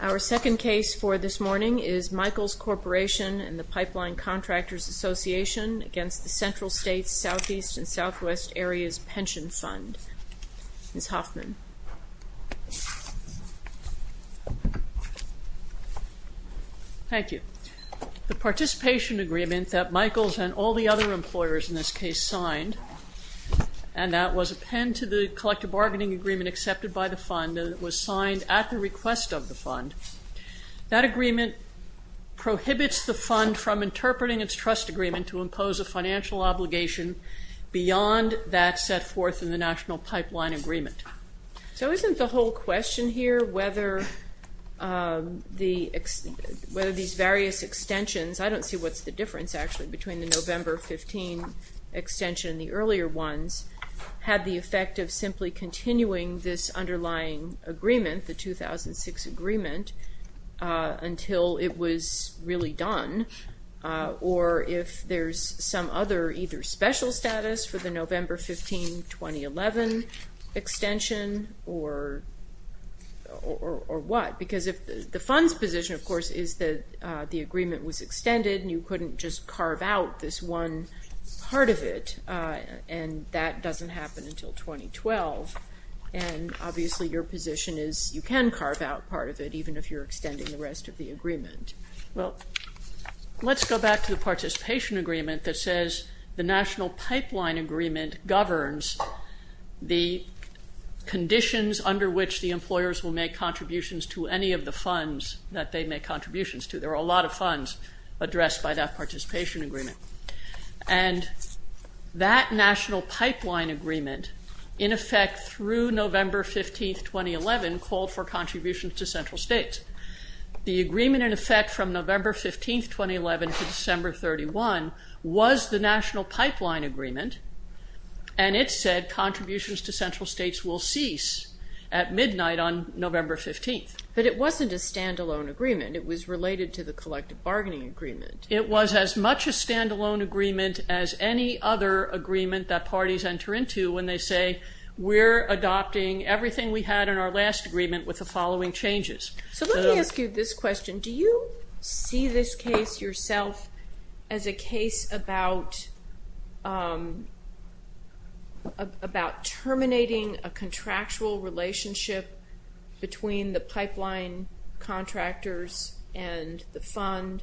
Our second case for this morning is Michaels Corporation and the Pipeline Contractors Association v. Central States, Southeast and Southwest Areas Pension Fund. Ms. Hoffman. Thank you. The participation agreement that Michaels and all the other employers in this case signed, and that was a pen to the collective bargaining agreement accepted by the fund that was signed at the request of the fund, that agreement prohibits the fund from interpreting its trust agreement to impose a financial obligation beyond that set forth in the National Pipeline Agreement. So isn't the whole question here whether these various extensions, I don't see what's the difference actually between the November 15 extension and the earlier ones, had the effect of simply continuing this underlying agreement, the 2006 agreement, until it was really done, or if there's some other either special status for the November 15, 2011 extension, or what? Because if the fund's position of course is that the agreement was extended and you couldn't just carve out this one part of it, and that doesn't happen until 2012, and obviously your position is you can carve out part of it even if you're extending the rest of the agreement. Well, let's go back to the participation agreement that says the National Pipeline Agreement governs the conditions under which the employers will make contributions to any of the funds that they make contributions to. There are a lot of funds addressed by that participation agreement. And that National Pipeline Agreement in effect through November 15, 2011 called for contributions to central states. The agreement in effect from November 15, 2011 to December 31 was the National Pipeline Agreement, and it said contributions to central states will cease at midnight on November 15. But it wasn't a stand-alone agreement. It was related to the collective bargaining agreement. It was as much a stand-alone agreement as any other agreement that parties enter into when they say we're adopting everything we had in our last agreement with the following changes. So let me ask you this question. Do you see this case yourself as a case about terminating a contractual relationship between the pipeline contractors and the fund,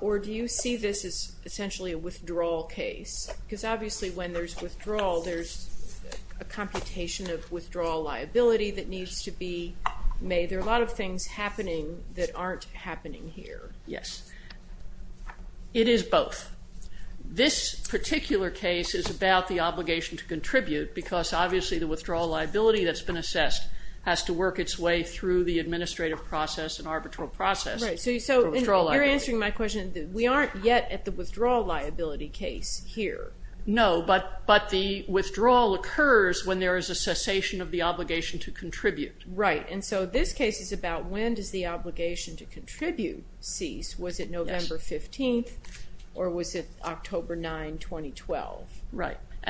or do you see this as essentially a withdrawal case? Because obviously when there's withdrawal, there's a computation of withdrawal liability that needs to be made. There are a lot of things happening that aren't happening here. Yes. It is both. This particular case is about the obligation to contribute because obviously the withdrawal liability that's been assessed has to work its way through the administrative process and arbitral process for withdrawal liability. You're answering my question. We aren't yet at the withdrawal liability case here. No, but the withdrawal occurs when there is a cessation of the obligation to contribute. Right. And so this case is about when does the obligation to contribute cease. Was it And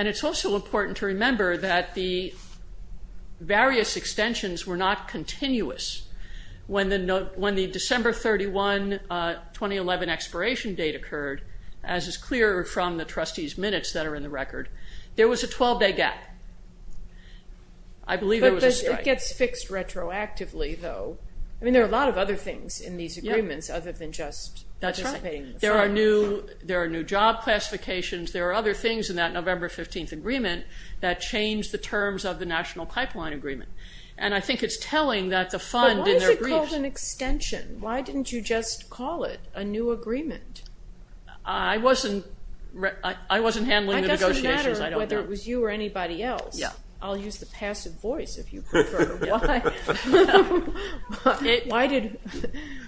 it's also important to remember that the various extensions were not continuous. When the December 31, 2011 expiration date occurred, as is clear from the trustees' minutes that are in the record, there was a 12-day gap. I believe there was a strike. But it gets fixed retroactively though. I mean there are a lot of other things in these agreements other than just participating in the fund. That's right. There are new job classifications. There are other things in that November 15th agreement that change the terms of the National Pipeline Agreement. And I think it's telling that the fund in their briefs But why is it called an extension? Why didn't you just call it a new agreement? I wasn't handling the negotiations. I don't know. It doesn't matter whether it was you or anybody else. Yeah. I'll use the passive voice if you prefer.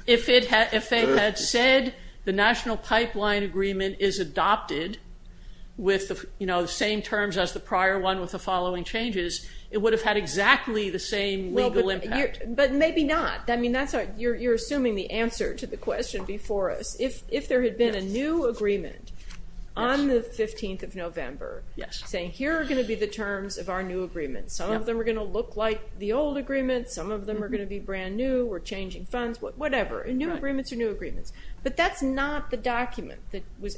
If they had said the National Pipeline Agreement is adopted with the same terms as the prior one with the following changes, it would have had exactly the same legal impact. But maybe not. You're assuming the answer to the question before us. If there had been a new agreement on the 15th of November saying here are going to be the terms of our new agreement. Some of them are going to look like the old agreement. Some of them are going to be brand new. We're changing funds. Whatever. New agreements are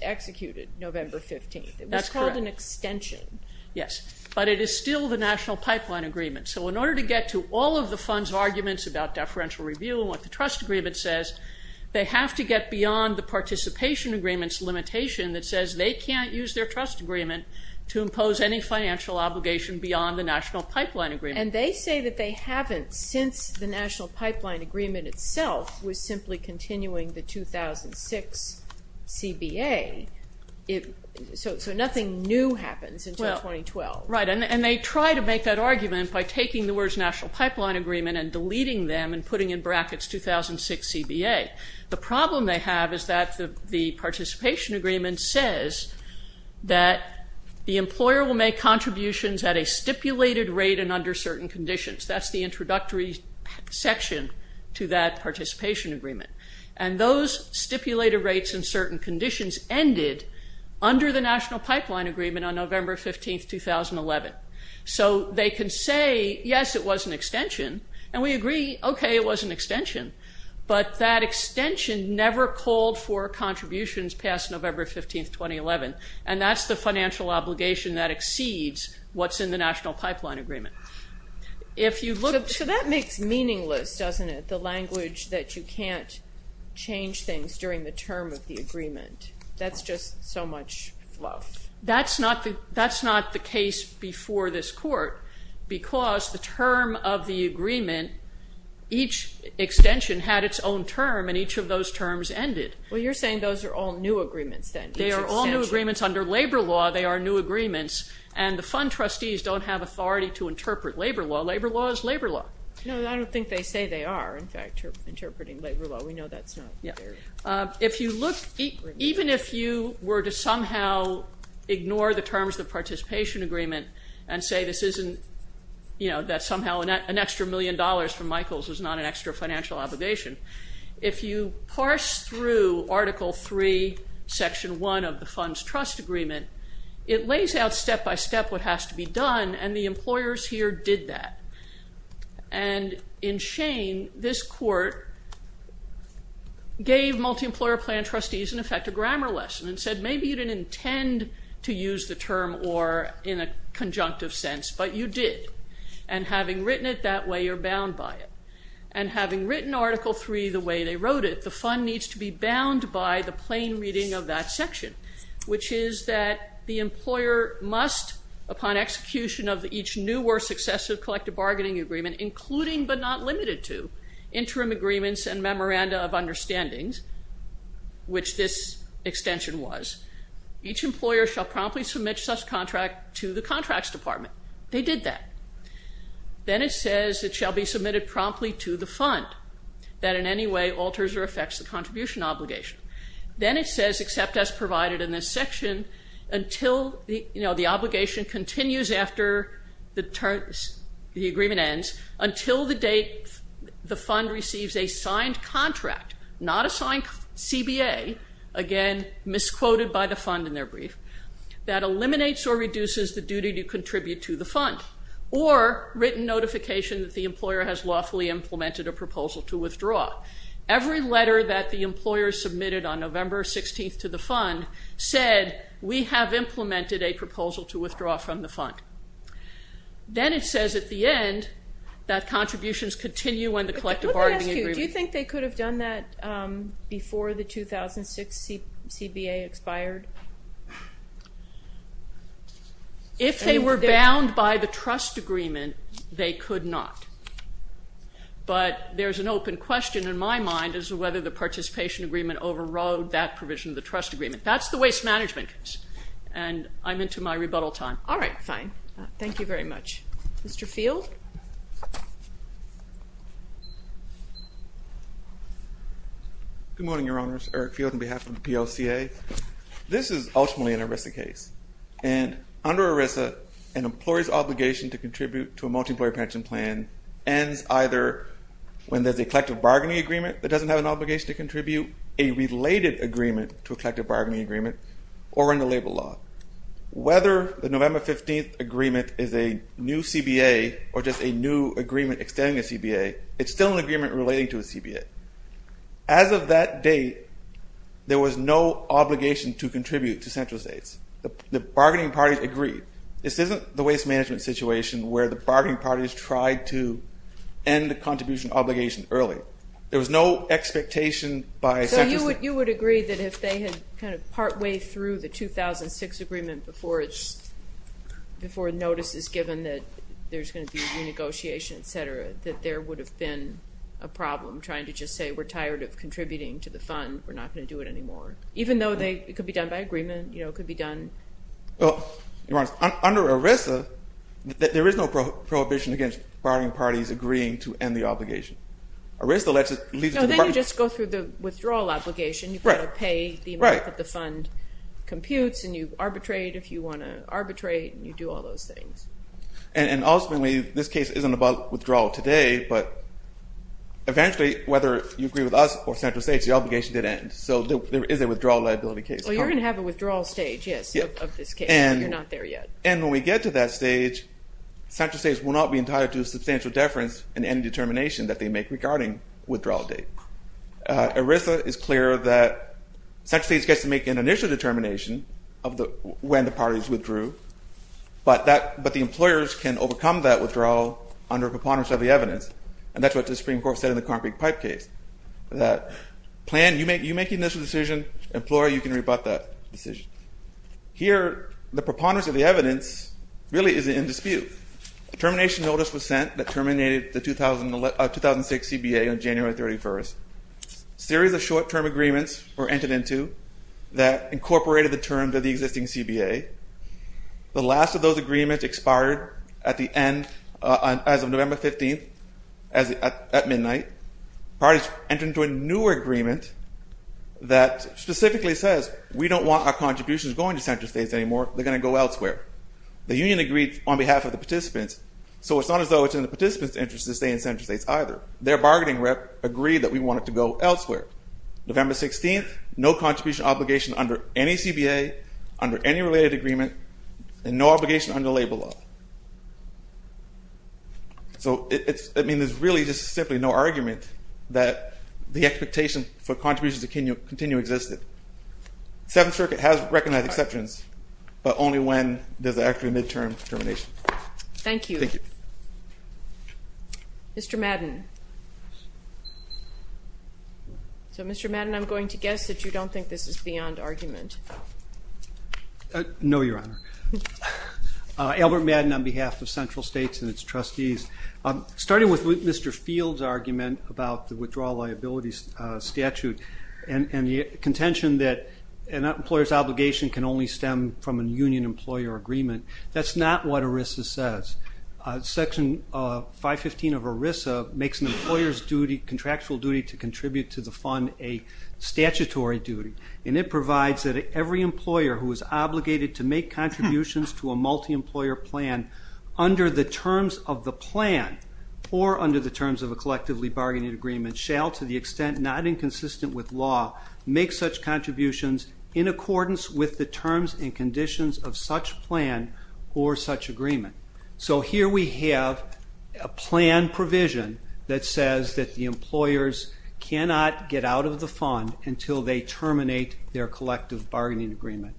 executed November 15th. That's correct. It was called an extension. Yes. But it is still the National Pipeline Agreement. So in order to get to all of the fund's arguments about deferential review and what the trust agreement says, they have to get beyond the participation agreement's limitation that says they can't use their trust agreement to impose any financial obligation beyond the National Pipeline Agreement. And they say that they haven't since the National Pipeline Agreement's CBA. So nothing new happens until 2012. Right. And they try to make that argument by taking the words National Pipeline Agreement and deleting them and putting in brackets 2006 CBA. The problem they have is that the participation agreement says that the employer will make contributions at a stipulated rate and under certain conditions. That's the introductory section to that participation agreement. And those stipulated rates in certain conditions ended under the National Pipeline Agreement on November 15th, 2011. So they can say, yes, it was an extension. And we agree, okay, it was an extension. But that extension never called for contributions past November 15th, 2011. And that's the financial obligation that exceeds what's in the National Pipeline Agreement. So that makes meaningless, doesn't it? The language that you can't change things during the term of the agreement. That's just so much fluff. That's not the case before this court because the term of the agreement, each extension had its own term and each of those terms ended. Well, you're saying those are all new agreements then. They are all new agreements under labor law. They are new agreements and the fund trustees don't have authority to interpret labor law. Labor law is labor law. No, I don't think they say they are, in fact, interpreting labor law. We know that's not fair. If you look, even if you were to somehow ignore the terms of the participation agreement and say this isn't, you know, that somehow an extra million dollars from Michael's was not an extra financial obligation, if you parse through Article 3, Section 1 of the Funds Trust Agreement, it lays out step by step what has to be done and the employers here did that. And in shame, this court gave multi-employer plan trustees, in effect, a grammar lesson and said maybe you didn't intend to use the term or in a conjunctive sense, but you did. And having written it that way, you're bound by it. And having written Article 3 the way they wrote it, the fund needs to be bound by the plain reading of that section, which is that the employer must, upon execution of each new or successive collective bargaining agreement, including but not limited to interim agreements and memoranda of understandings, which this extension was, each employer shall promptly submit such contract to the Contracts Department. They did that. Then it says it shall be submitted promptly to the fund that in any way alters or affects the contribution obligation. Then it says accept as provided in this section until, you know, the obligation continues after the agreement ends, until the date the fund receives a signed contract, not a signed CBA, again misquoted by the fund in their brief, that eliminates or reduces the duty to contribute to the fund. Or written notification that the employer has lawfully implemented a proposal to withdraw. Every letter that the employer submitted on November 16th to the fund said we have implemented a proposal to withdraw from the fund. Then it says at the end that contributions continue when the collective bargaining agreement... But let me ask you, do you think they could have done that before the 2006 CBA expired? If they were bound by the trust agreement, they could not. But there's an open question in my mind as to whether the participation agreement overrode that provision of the trust agreement. That's the waste management case. And I'm into my rebuttal time. All right, fine. Thank you very much. Mr. Field? Good morning, Your Honors. Eric Field on behalf of the POCA. This is ultimately an ERISA case. And under ERISA, an employer's obligation to contribute to a multi-employer pension plan ends either when there's a collective bargaining agreement that doesn't have an obligation to contribute, a related agreement to a collective bargaining agreement, or in labor law. Whether the November 15th agreement is a new CBA or just a new agreement extending a CBA, it's still an agreement relating to a CBA. As of that date, there was no obligation to contribute to central states. The bargaining parties agreed. This isn't the waste management situation where the bargaining parties tried to end the contribution obligation early. There was no expectation by central states... So you would agree that if they had kind of partway through the 2006 agreement before notice is given that there's going to be renegotiation, et cetera, that there would have been a problem trying to just say, we're tired of contributing to the fund. We're not going to do it anymore. Even though it could be done by agreement, you know, it could be done... Well, Your Honors, under ERISA, there is no prohibition against bargaining parties agreeing to end the obligation. ERISA lets it... So then you just go through the withdrawal obligation. You've got to pay the amount that the fund computes, and you arbitrate if you want to arbitrate, and you do all those things. And ultimately, this case isn't about withdrawal today, but eventually, whether you agree with us or central states, the obligation did end. So there is a withdrawal liability case. Well, you're going to have a withdrawal stage, yes, of this case. You're not there yet. And when we get to that stage, central states will not be entitled to a substantial deference in any determination that they make regarding withdrawal date. ERISA is clear that central states gets to make an initial determination of when the parties withdrew, but the employers can overcome that withdrawal under preponderance of the evidence. And that's what the Supreme Court said in the Concrete Pipe case, that plan, you make an initial decision. Employer, you can rebut that decision. Here, the preponderance of the evidence really is in dispute. A termination notice was sent that terminated the 2006 CBA on January 31st. A series of short-term agreements were entered into that incorporated the terms of the existing CBA. The last of those agreements expired at the end, as of November 15th, at midnight. Parties entered into a newer agreement that specifically says, we don't want our contributions going to central states anymore. They're going to go elsewhere. The union agreed on behalf of the participants, so it's not as though it's in the participants' interest to stay in central states either. Their bargaining rep agreed that we want it to go elsewhere. November 16th, no contribution obligation under any CBA, under any related agreement, and no obligation under labor law. So, I mean, there's really just simply no argument that the expectation for contributions to continue existed. Seventh Circuit has recognized exceptions, but only when there's actually a midterm termination. Thank you. Thank you. Mr. Madden. So, Mr. Madden, I'm going to guess that you don't think this is beyond argument. No, Your Honor. Albert Madden on behalf of central states and its trustees. Starting with Mr. Field's argument about the withdrawal liabilities statute and the contention that an employer's obligation can only stem from a union-employer agreement, that's not what ERISA says. Section 515 of ERISA makes an employer's contractual duty to contribute to the fund a statutory duty, and it provides that every employer who is obligated to make contributions to a multi-employer plan under the terms of the plan, or under the terms of a collectively bargaining agreement, shall, to the extent not inconsistent with law, make such contributions in accordance with the terms and conditions of such plan or such agreement. So, here we have a plan provision that says that the employers cannot get out of the fund until they terminate their collective bargaining agreement.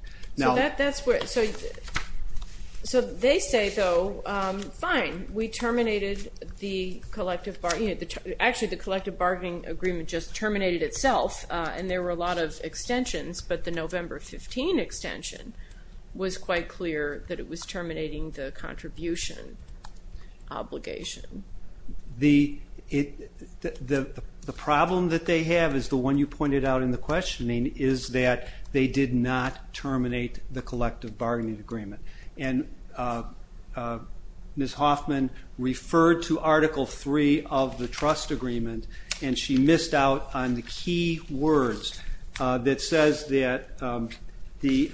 So, they say, though, fine, we terminated the collective bargaining, actually the collective bargaining agreement just terminated itself, and there were a lot of extensions, but the was quite clear that it was terminating the contribution obligation. The problem that they have, as the one you pointed out in the questioning, is that they did not terminate the collective bargaining agreement, and Ms. Hoffman referred to Article 3 of the trust agreement. The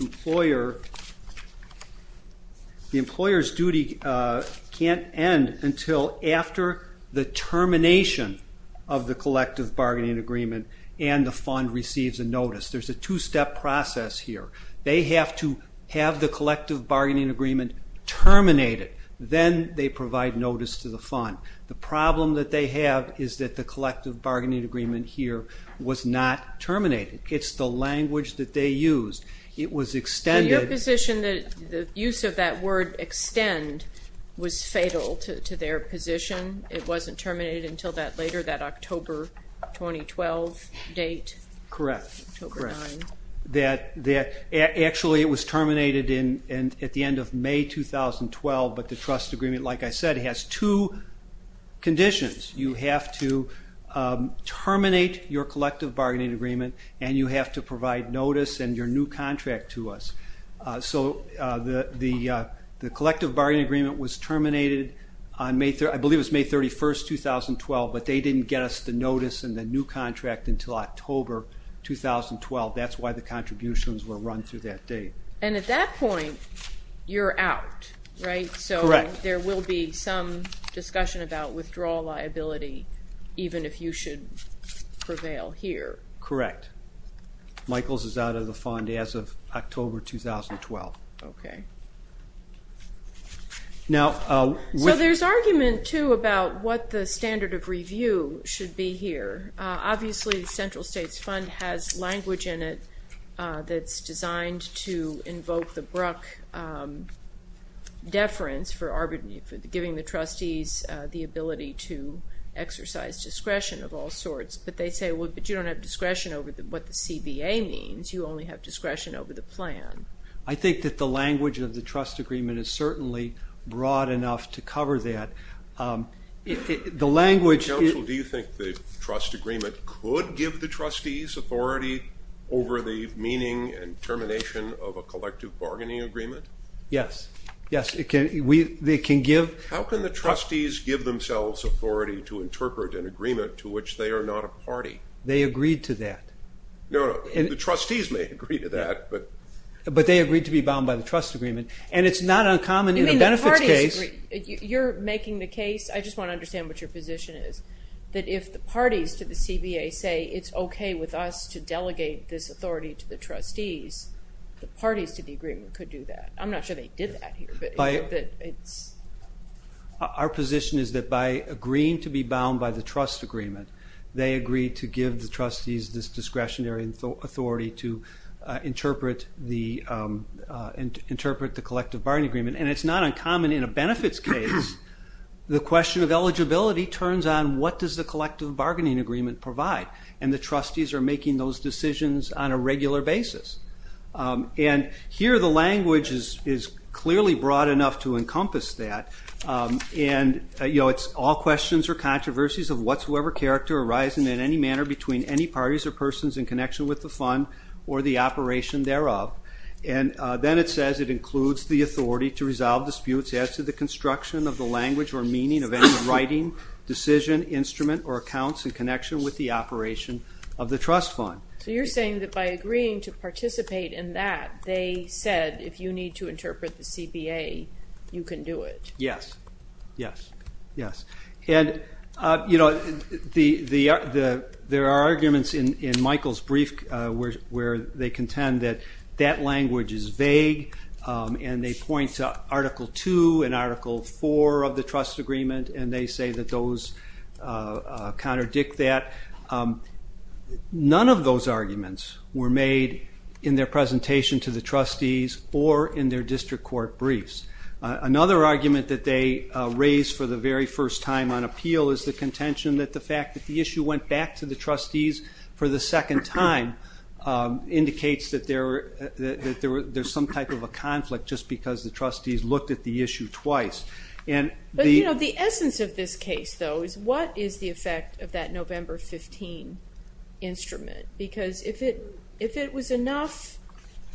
employer's duty can't end until after the termination of the collective bargaining agreement and the fund receives a notice. There's a two-step process here. They have to have the collective bargaining agreement terminated, then they provide notice to the fund. The problem that they have is that the collective bargaining agreement here was not terminated. It's the language that they used. It was extended. In your position, the use of that word extend was fatal to their position? It wasn't terminated until that later, that October 2012 date? Correct. Actually, it was terminated at the end of May 2012, but the trust agreement, like I said, has two conditions. You have to terminate your collective bargaining agreement, and you have to provide notice and your new contract to us. So the collective bargaining agreement was terminated on May 31, 2012, but they didn't get us the notice and the new contract until October 2012. That's why the contributions were run through that date. And at that point, you're out, right? Correct. So there will be some discussion about withdrawal liability, even if you should prevail here? Correct. Michaels is out of the fund as of October 2012. Okay. So there's argument, too, about what the standard of review should be here. Obviously, the Central States Fund has language in it that's designed to invoke the Bruck deference for giving the trustees the ability to exercise discretion of all sorts, but they say, well, but you don't have discretion over what the CBA means. You only have discretion over the plan. I think that the language of the trust agreement is certainly broad enough to cover that. The CBA would give the trustees authority over the meaning and termination of a collective bargaining agreement? Yes. Yes, it can. They can give. How can the trustees give themselves authority to interpret an agreement to which they are not a party? They agreed to that. No, no. The trustees may agree to that, but... But they agreed to be bound by the trust agreement, and it's not uncommon in a benefits case. You're making the case, I just want to understand what your position is, that if the parties to the CBA say it's okay with us to delegate this authority to the trustees, the parties to the agreement could do that. I'm not sure they did that here, but it's... Our position is that by agreeing to be bound by the trust agreement, they agreed to give the trustees this discretionary authority to interpret the collective bargaining agreement, and it's not uncommon in a benefits case. The question of eligibility turns on what does the collective bargaining agreement provide, and the trustees are making those decisions on a regular basis. And here the language is clearly broad enough to encompass that, and it's all questions or controversies of whatsoever character arising in any manner between any parties or persons in connection with the fund or the operation thereof, and then it says it includes the authority to resolve disputes as to the construction of the language or meaning of any writing, decision, instrument, or accounts in connection with the operation of the trust fund. So you're saying that by agreeing to participate in that, they said if you need to interpret the CBA, you can do it. Yes, yes, yes. And there are arguments in Michael's brief where they contend that that language is vague, and they point to Article 2 and Article 4 of the trust agreement, and they say that those contradict that. None of those arguments were made in their presentation to the trustees or in their district court briefs. Another argument that they raised for the very first time on appeal is the contention that the fact that the issue went back to the trustees for the second time indicates that there's some type of a conflict just because the trustees looked at the issue twice. But the essence of this case, though, is what is the effect of that November 15 instrument? Because if it was enough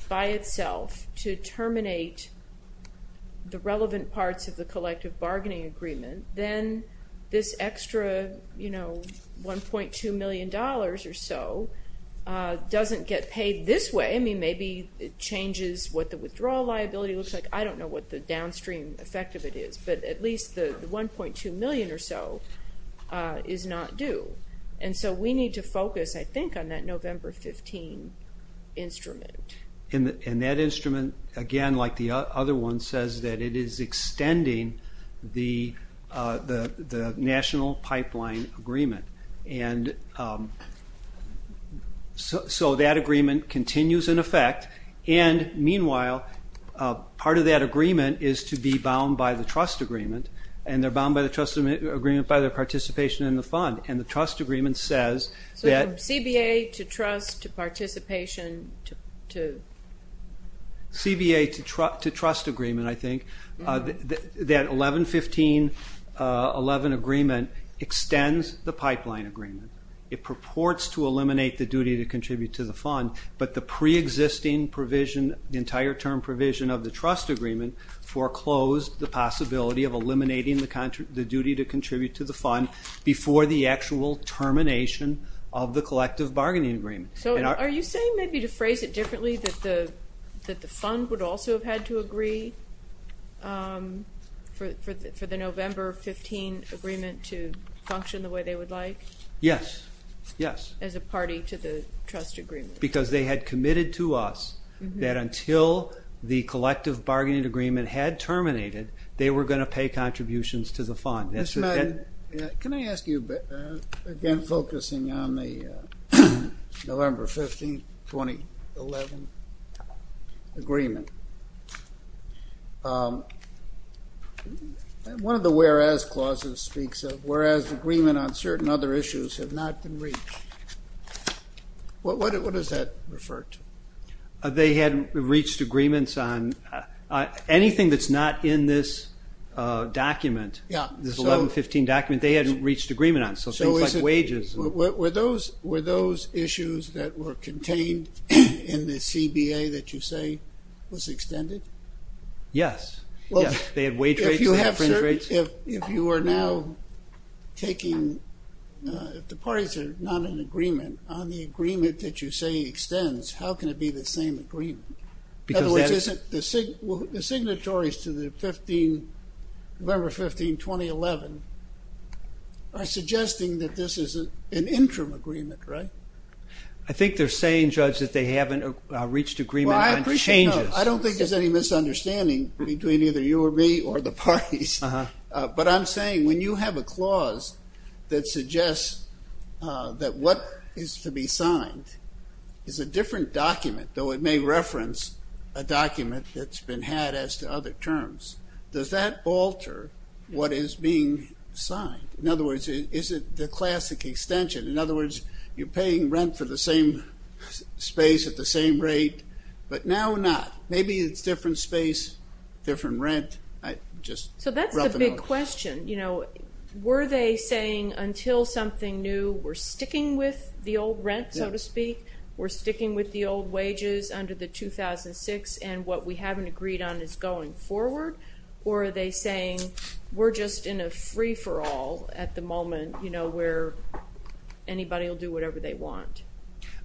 by itself to terminate the relevant parts of the collective bargaining agreement, then this extra $1.2 million or so doesn't get paid this way. I mean, maybe it changes what the withdrawal liability looks like. I don't know what the downstream effect of it is, but at least the $1.2 million or so is not due. And so we need to focus, I think, on that November 15 instrument. And that instrument, again, like the other one, says that it is extending the national pipeline agreement. And so that agreement continues in effect, and meanwhile, part of that agreement is to be bound by the trust agreement, and they're bound by the trust agreement by their participation in the fund. And the trust agreement says that... So from CBA to trust to participation to... CBA to trust agreement, I think. That 11-15-11 agreement extends the pipeline agreement. It purports to eliminate the duty to contribute to the fund, but the preexisting provision, the entire term provision of the trust agreement, foreclosed the possibility of eliminating the duty to contribute to the fund before the actual termination of the collective bargaining agreement. So are you saying, maybe to phrase it differently, that the fund would also have had to agree for the November 15 agreement to function the way they would like? Yes. Yes. As a party to the trust agreement. Because they had committed to us that until the collective bargaining agreement had terminated, they were going to pay contributions to the fund. Mr. Madden, can I ask you, again, focusing on the November 15, 2011 agreement, one of the whereas clauses speaks of whereas agreement on certain other issues have not been reached. What does that refer to? They hadn't reached agreements on anything that's not in this document, this 11-15 document. They hadn't reached agreement on it. So things like wages... Were those issues that were contained in the CBA that you say was extended? Yes. Yes. They had wage rates, they had fringe rates. If you are now taking, if the parties are not in agreement on the agreement that you say extends, how can it be the same agreement? In other words, isn't the signatories to the November 15, 2011 are suggesting that this is an interim agreement, right? I think they're saying, Judge, that they haven't reached agreement on changes. I don't think there's any misunderstanding between either you or me or the parties, but I'm saying when you have a clause that suggests that what is to be signed is a different document, though it may reference a document that's been had as to other terms, does that alter what is being signed? In other words, is it the classic extension? In other words, you're getting rent for the same space at the same rate, but now not. Maybe it's different space, different rent. I just... So that's the big question. Were they saying until something new, we're sticking with the old rent, so to speak? We're sticking with the old wages under the 2006 and what we haven't agreed on is going forward? Or are they saying we're just in a free-for-all at the moment where anybody will do whatever they want?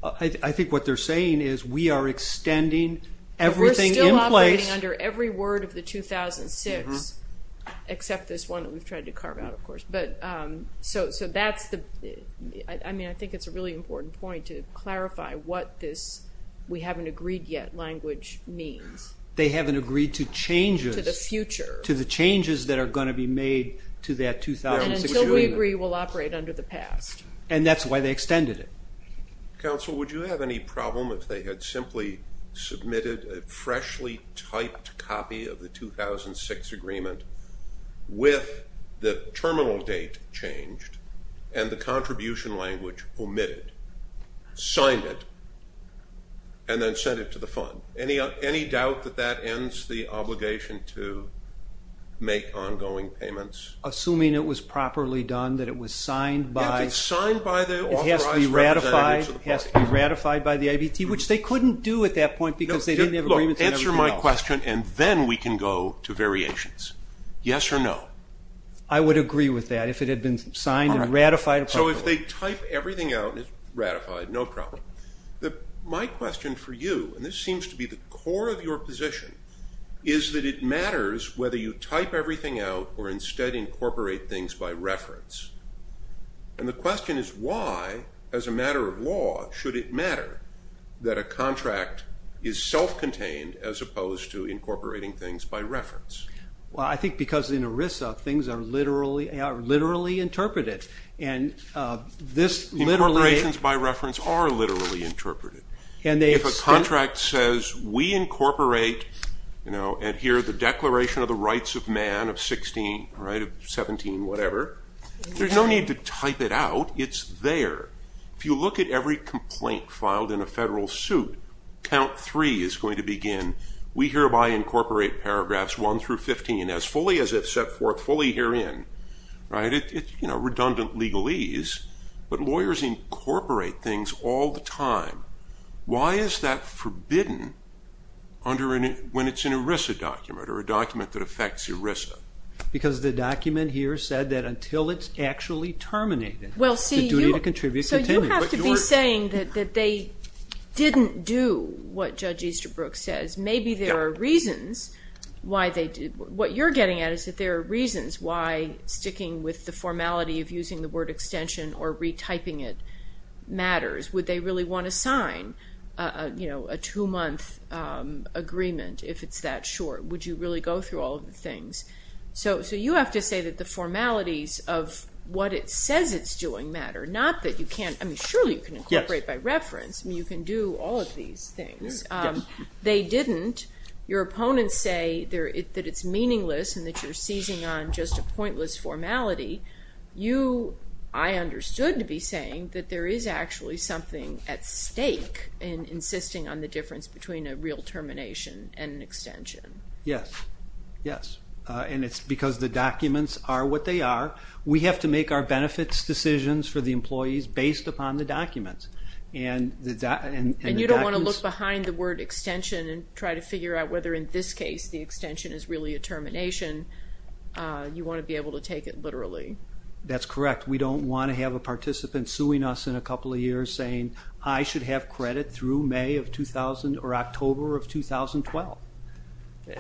I think what they're saying is we are extending everything in place... We're still operating under every word of the 2006, except this one that we've tried to carve out, of course. So that's the... I mean, I think it's a really important point to clarify what this we haven't agreed yet language means. They haven't agreed to changes... To the future. To the changes that are gonna be made to that 2006 agreement. And until we agree, we'll operate under the past. And that's why they extended it. Counsel, would you have any problem if they had simply submitted a freshly typed copy of the 2006 agreement with the terminal date changed and the contribution language omitted, signed it, and then sent it to the fund? Any doubt that that ends the obligation to make ongoing payments? Assuming it was properly done, that it was signed by... If it's signed by the authorized representatives of the party. It has to be ratified by the IBT, which they couldn't do at that point because they didn't have agreements on everything else. Answer my question and then we can go to variations. Yes or no? I would agree with that, if it had been signed and ratified appropriately. So if they type everything out and it's ratified, no problem. My question for you, and this seems to be the core of your position, is that it matters whether you type everything out or instead incorporate things by reference. And the question is why, as a matter of law, should it matter that a contract is self-contained as opposed to incorporating things by reference? Well, I think because in ERISA, things are literally interpreted. And this literally... Incorporations by reference are literally interpreted. If a contract says, we incorporate and here the Declaration of the Rights of Man of 16, 17, whatever, there's no need to type it out. It's there. If you look at every complaint filed in a federal suit, count three is going to begin. We hereby incorporate paragraphs 1 through 15 as fully as if set forth fully herein. It's redundant legalese, but lawyers incorporate things all the time. Why is that forbidden when it's an ERISA document or a document that affects ERISA? Because the document here said that until it's actually terminated, the duty to contribute continues. So you have to be saying that they didn't do what Judge Easterbrook says. Maybe there are reasons why they did... What you're getting at is that there are reasons why sticking with the formality of using the word extension or retyping it matters. Would they really want to sign a two-month agreement if it's that short? Would you really go through all of the things? So you have to say that the formalities of what it says it's doing matter, not that you can't... I mean, surely you can incorporate by reference. I mean, you can do all of these things. They didn't. Your opponents say that it's meaningless and that you're seizing on just a pointless formality. You, I understood to be saying that there is actually something at stake in insisting on the difference between a real termination and an extension. Yes, yes, and it's because the documents are what they are. We have to make our benefits decisions for the employees based upon the documents. And the documents... And you don't want to look behind the word extension and try to figure out whether in this case the extension is really a termination. You want to be able to take it literally. That's correct. We don't want to have a participant suing us in a couple of years saying, I should have credit through May of 2000 or October of 2012.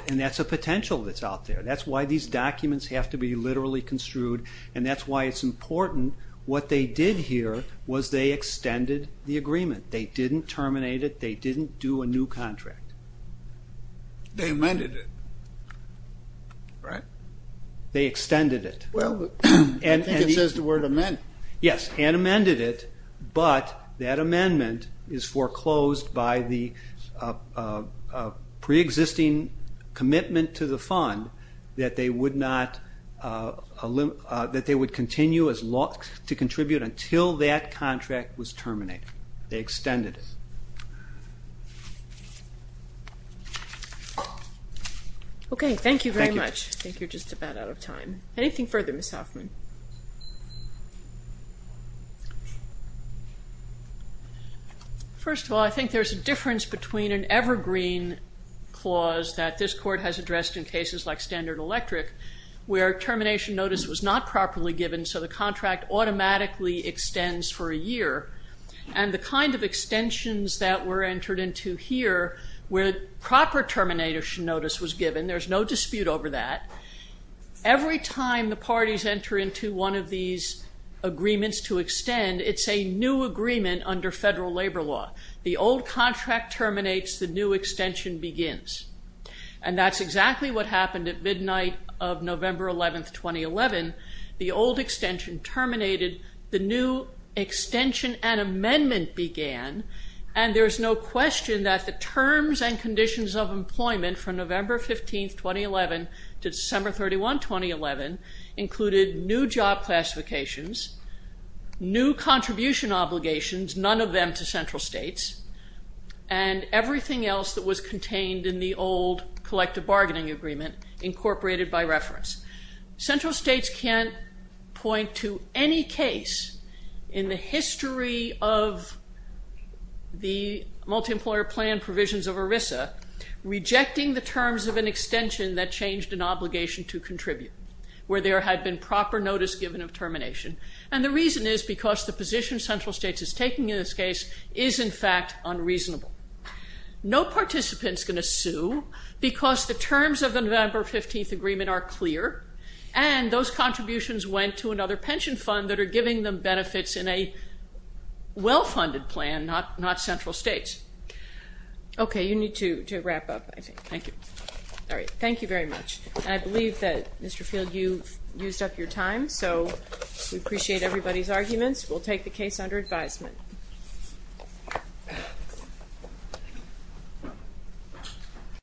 And that's a potential that's out there. That's why these documents have to be literally construed, and that's why it's important. What they did here was they extended the agreement. They didn't terminate it. They didn't do a new contract. They amended it, right? They extended it. Well, I think it says the word amend. Yes, and amended it, but that amendment is foreclosed by the preexisting commitment to the fund that they would continue to contribute until that contract was terminated. They extended it. Okay, thank you very much. Thank you. I think you're just about out of time. Anything further, Ms. Hoffman? First of all, I think there's a difference between an evergreen clause that this court has addressed in cases like Standard Electric where termination notice was not properly given, so the contract automatically extends for a year, and the kind of extensions that were entered into here where proper termination notice was given, there's no dispute over that. Every time the parties enter into one of these agreements to extend, it's a new agreement under federal labor law. The old contract terminates. The new extension begins, and that's exactly what happened at midnight of November 11, 2011. The old extension terminated. The new extension and amendment began, and there's no question that the terms and conditions of employment from November 15, 2011, to December 31, 2011, included new job classifications, new contribution obligations, none of them to central states, and everything else that was contained in the old collective bargaining agreement incorporated by reference. Central states can't point to any case in the history of the multi-employer plan provisions of ERISA rejecting the terms of an extension that changed an obligation to contribute where there had been proper notice given of termination, and the reason is because the position central states is taking in this case is, in fact, unreasonable. No participant's going to sue because the terms of the November 15 agreement are clear, and those contributions went to another pension fund that are giving them benefits in a well-funded plan, not central states. OK, you need to wrap up, I think. Thank you. All right, thank you very much. I believe that, Mr. Field, you've used up your time, so we appreciate everybody's arguments. We'll take the case under advisement.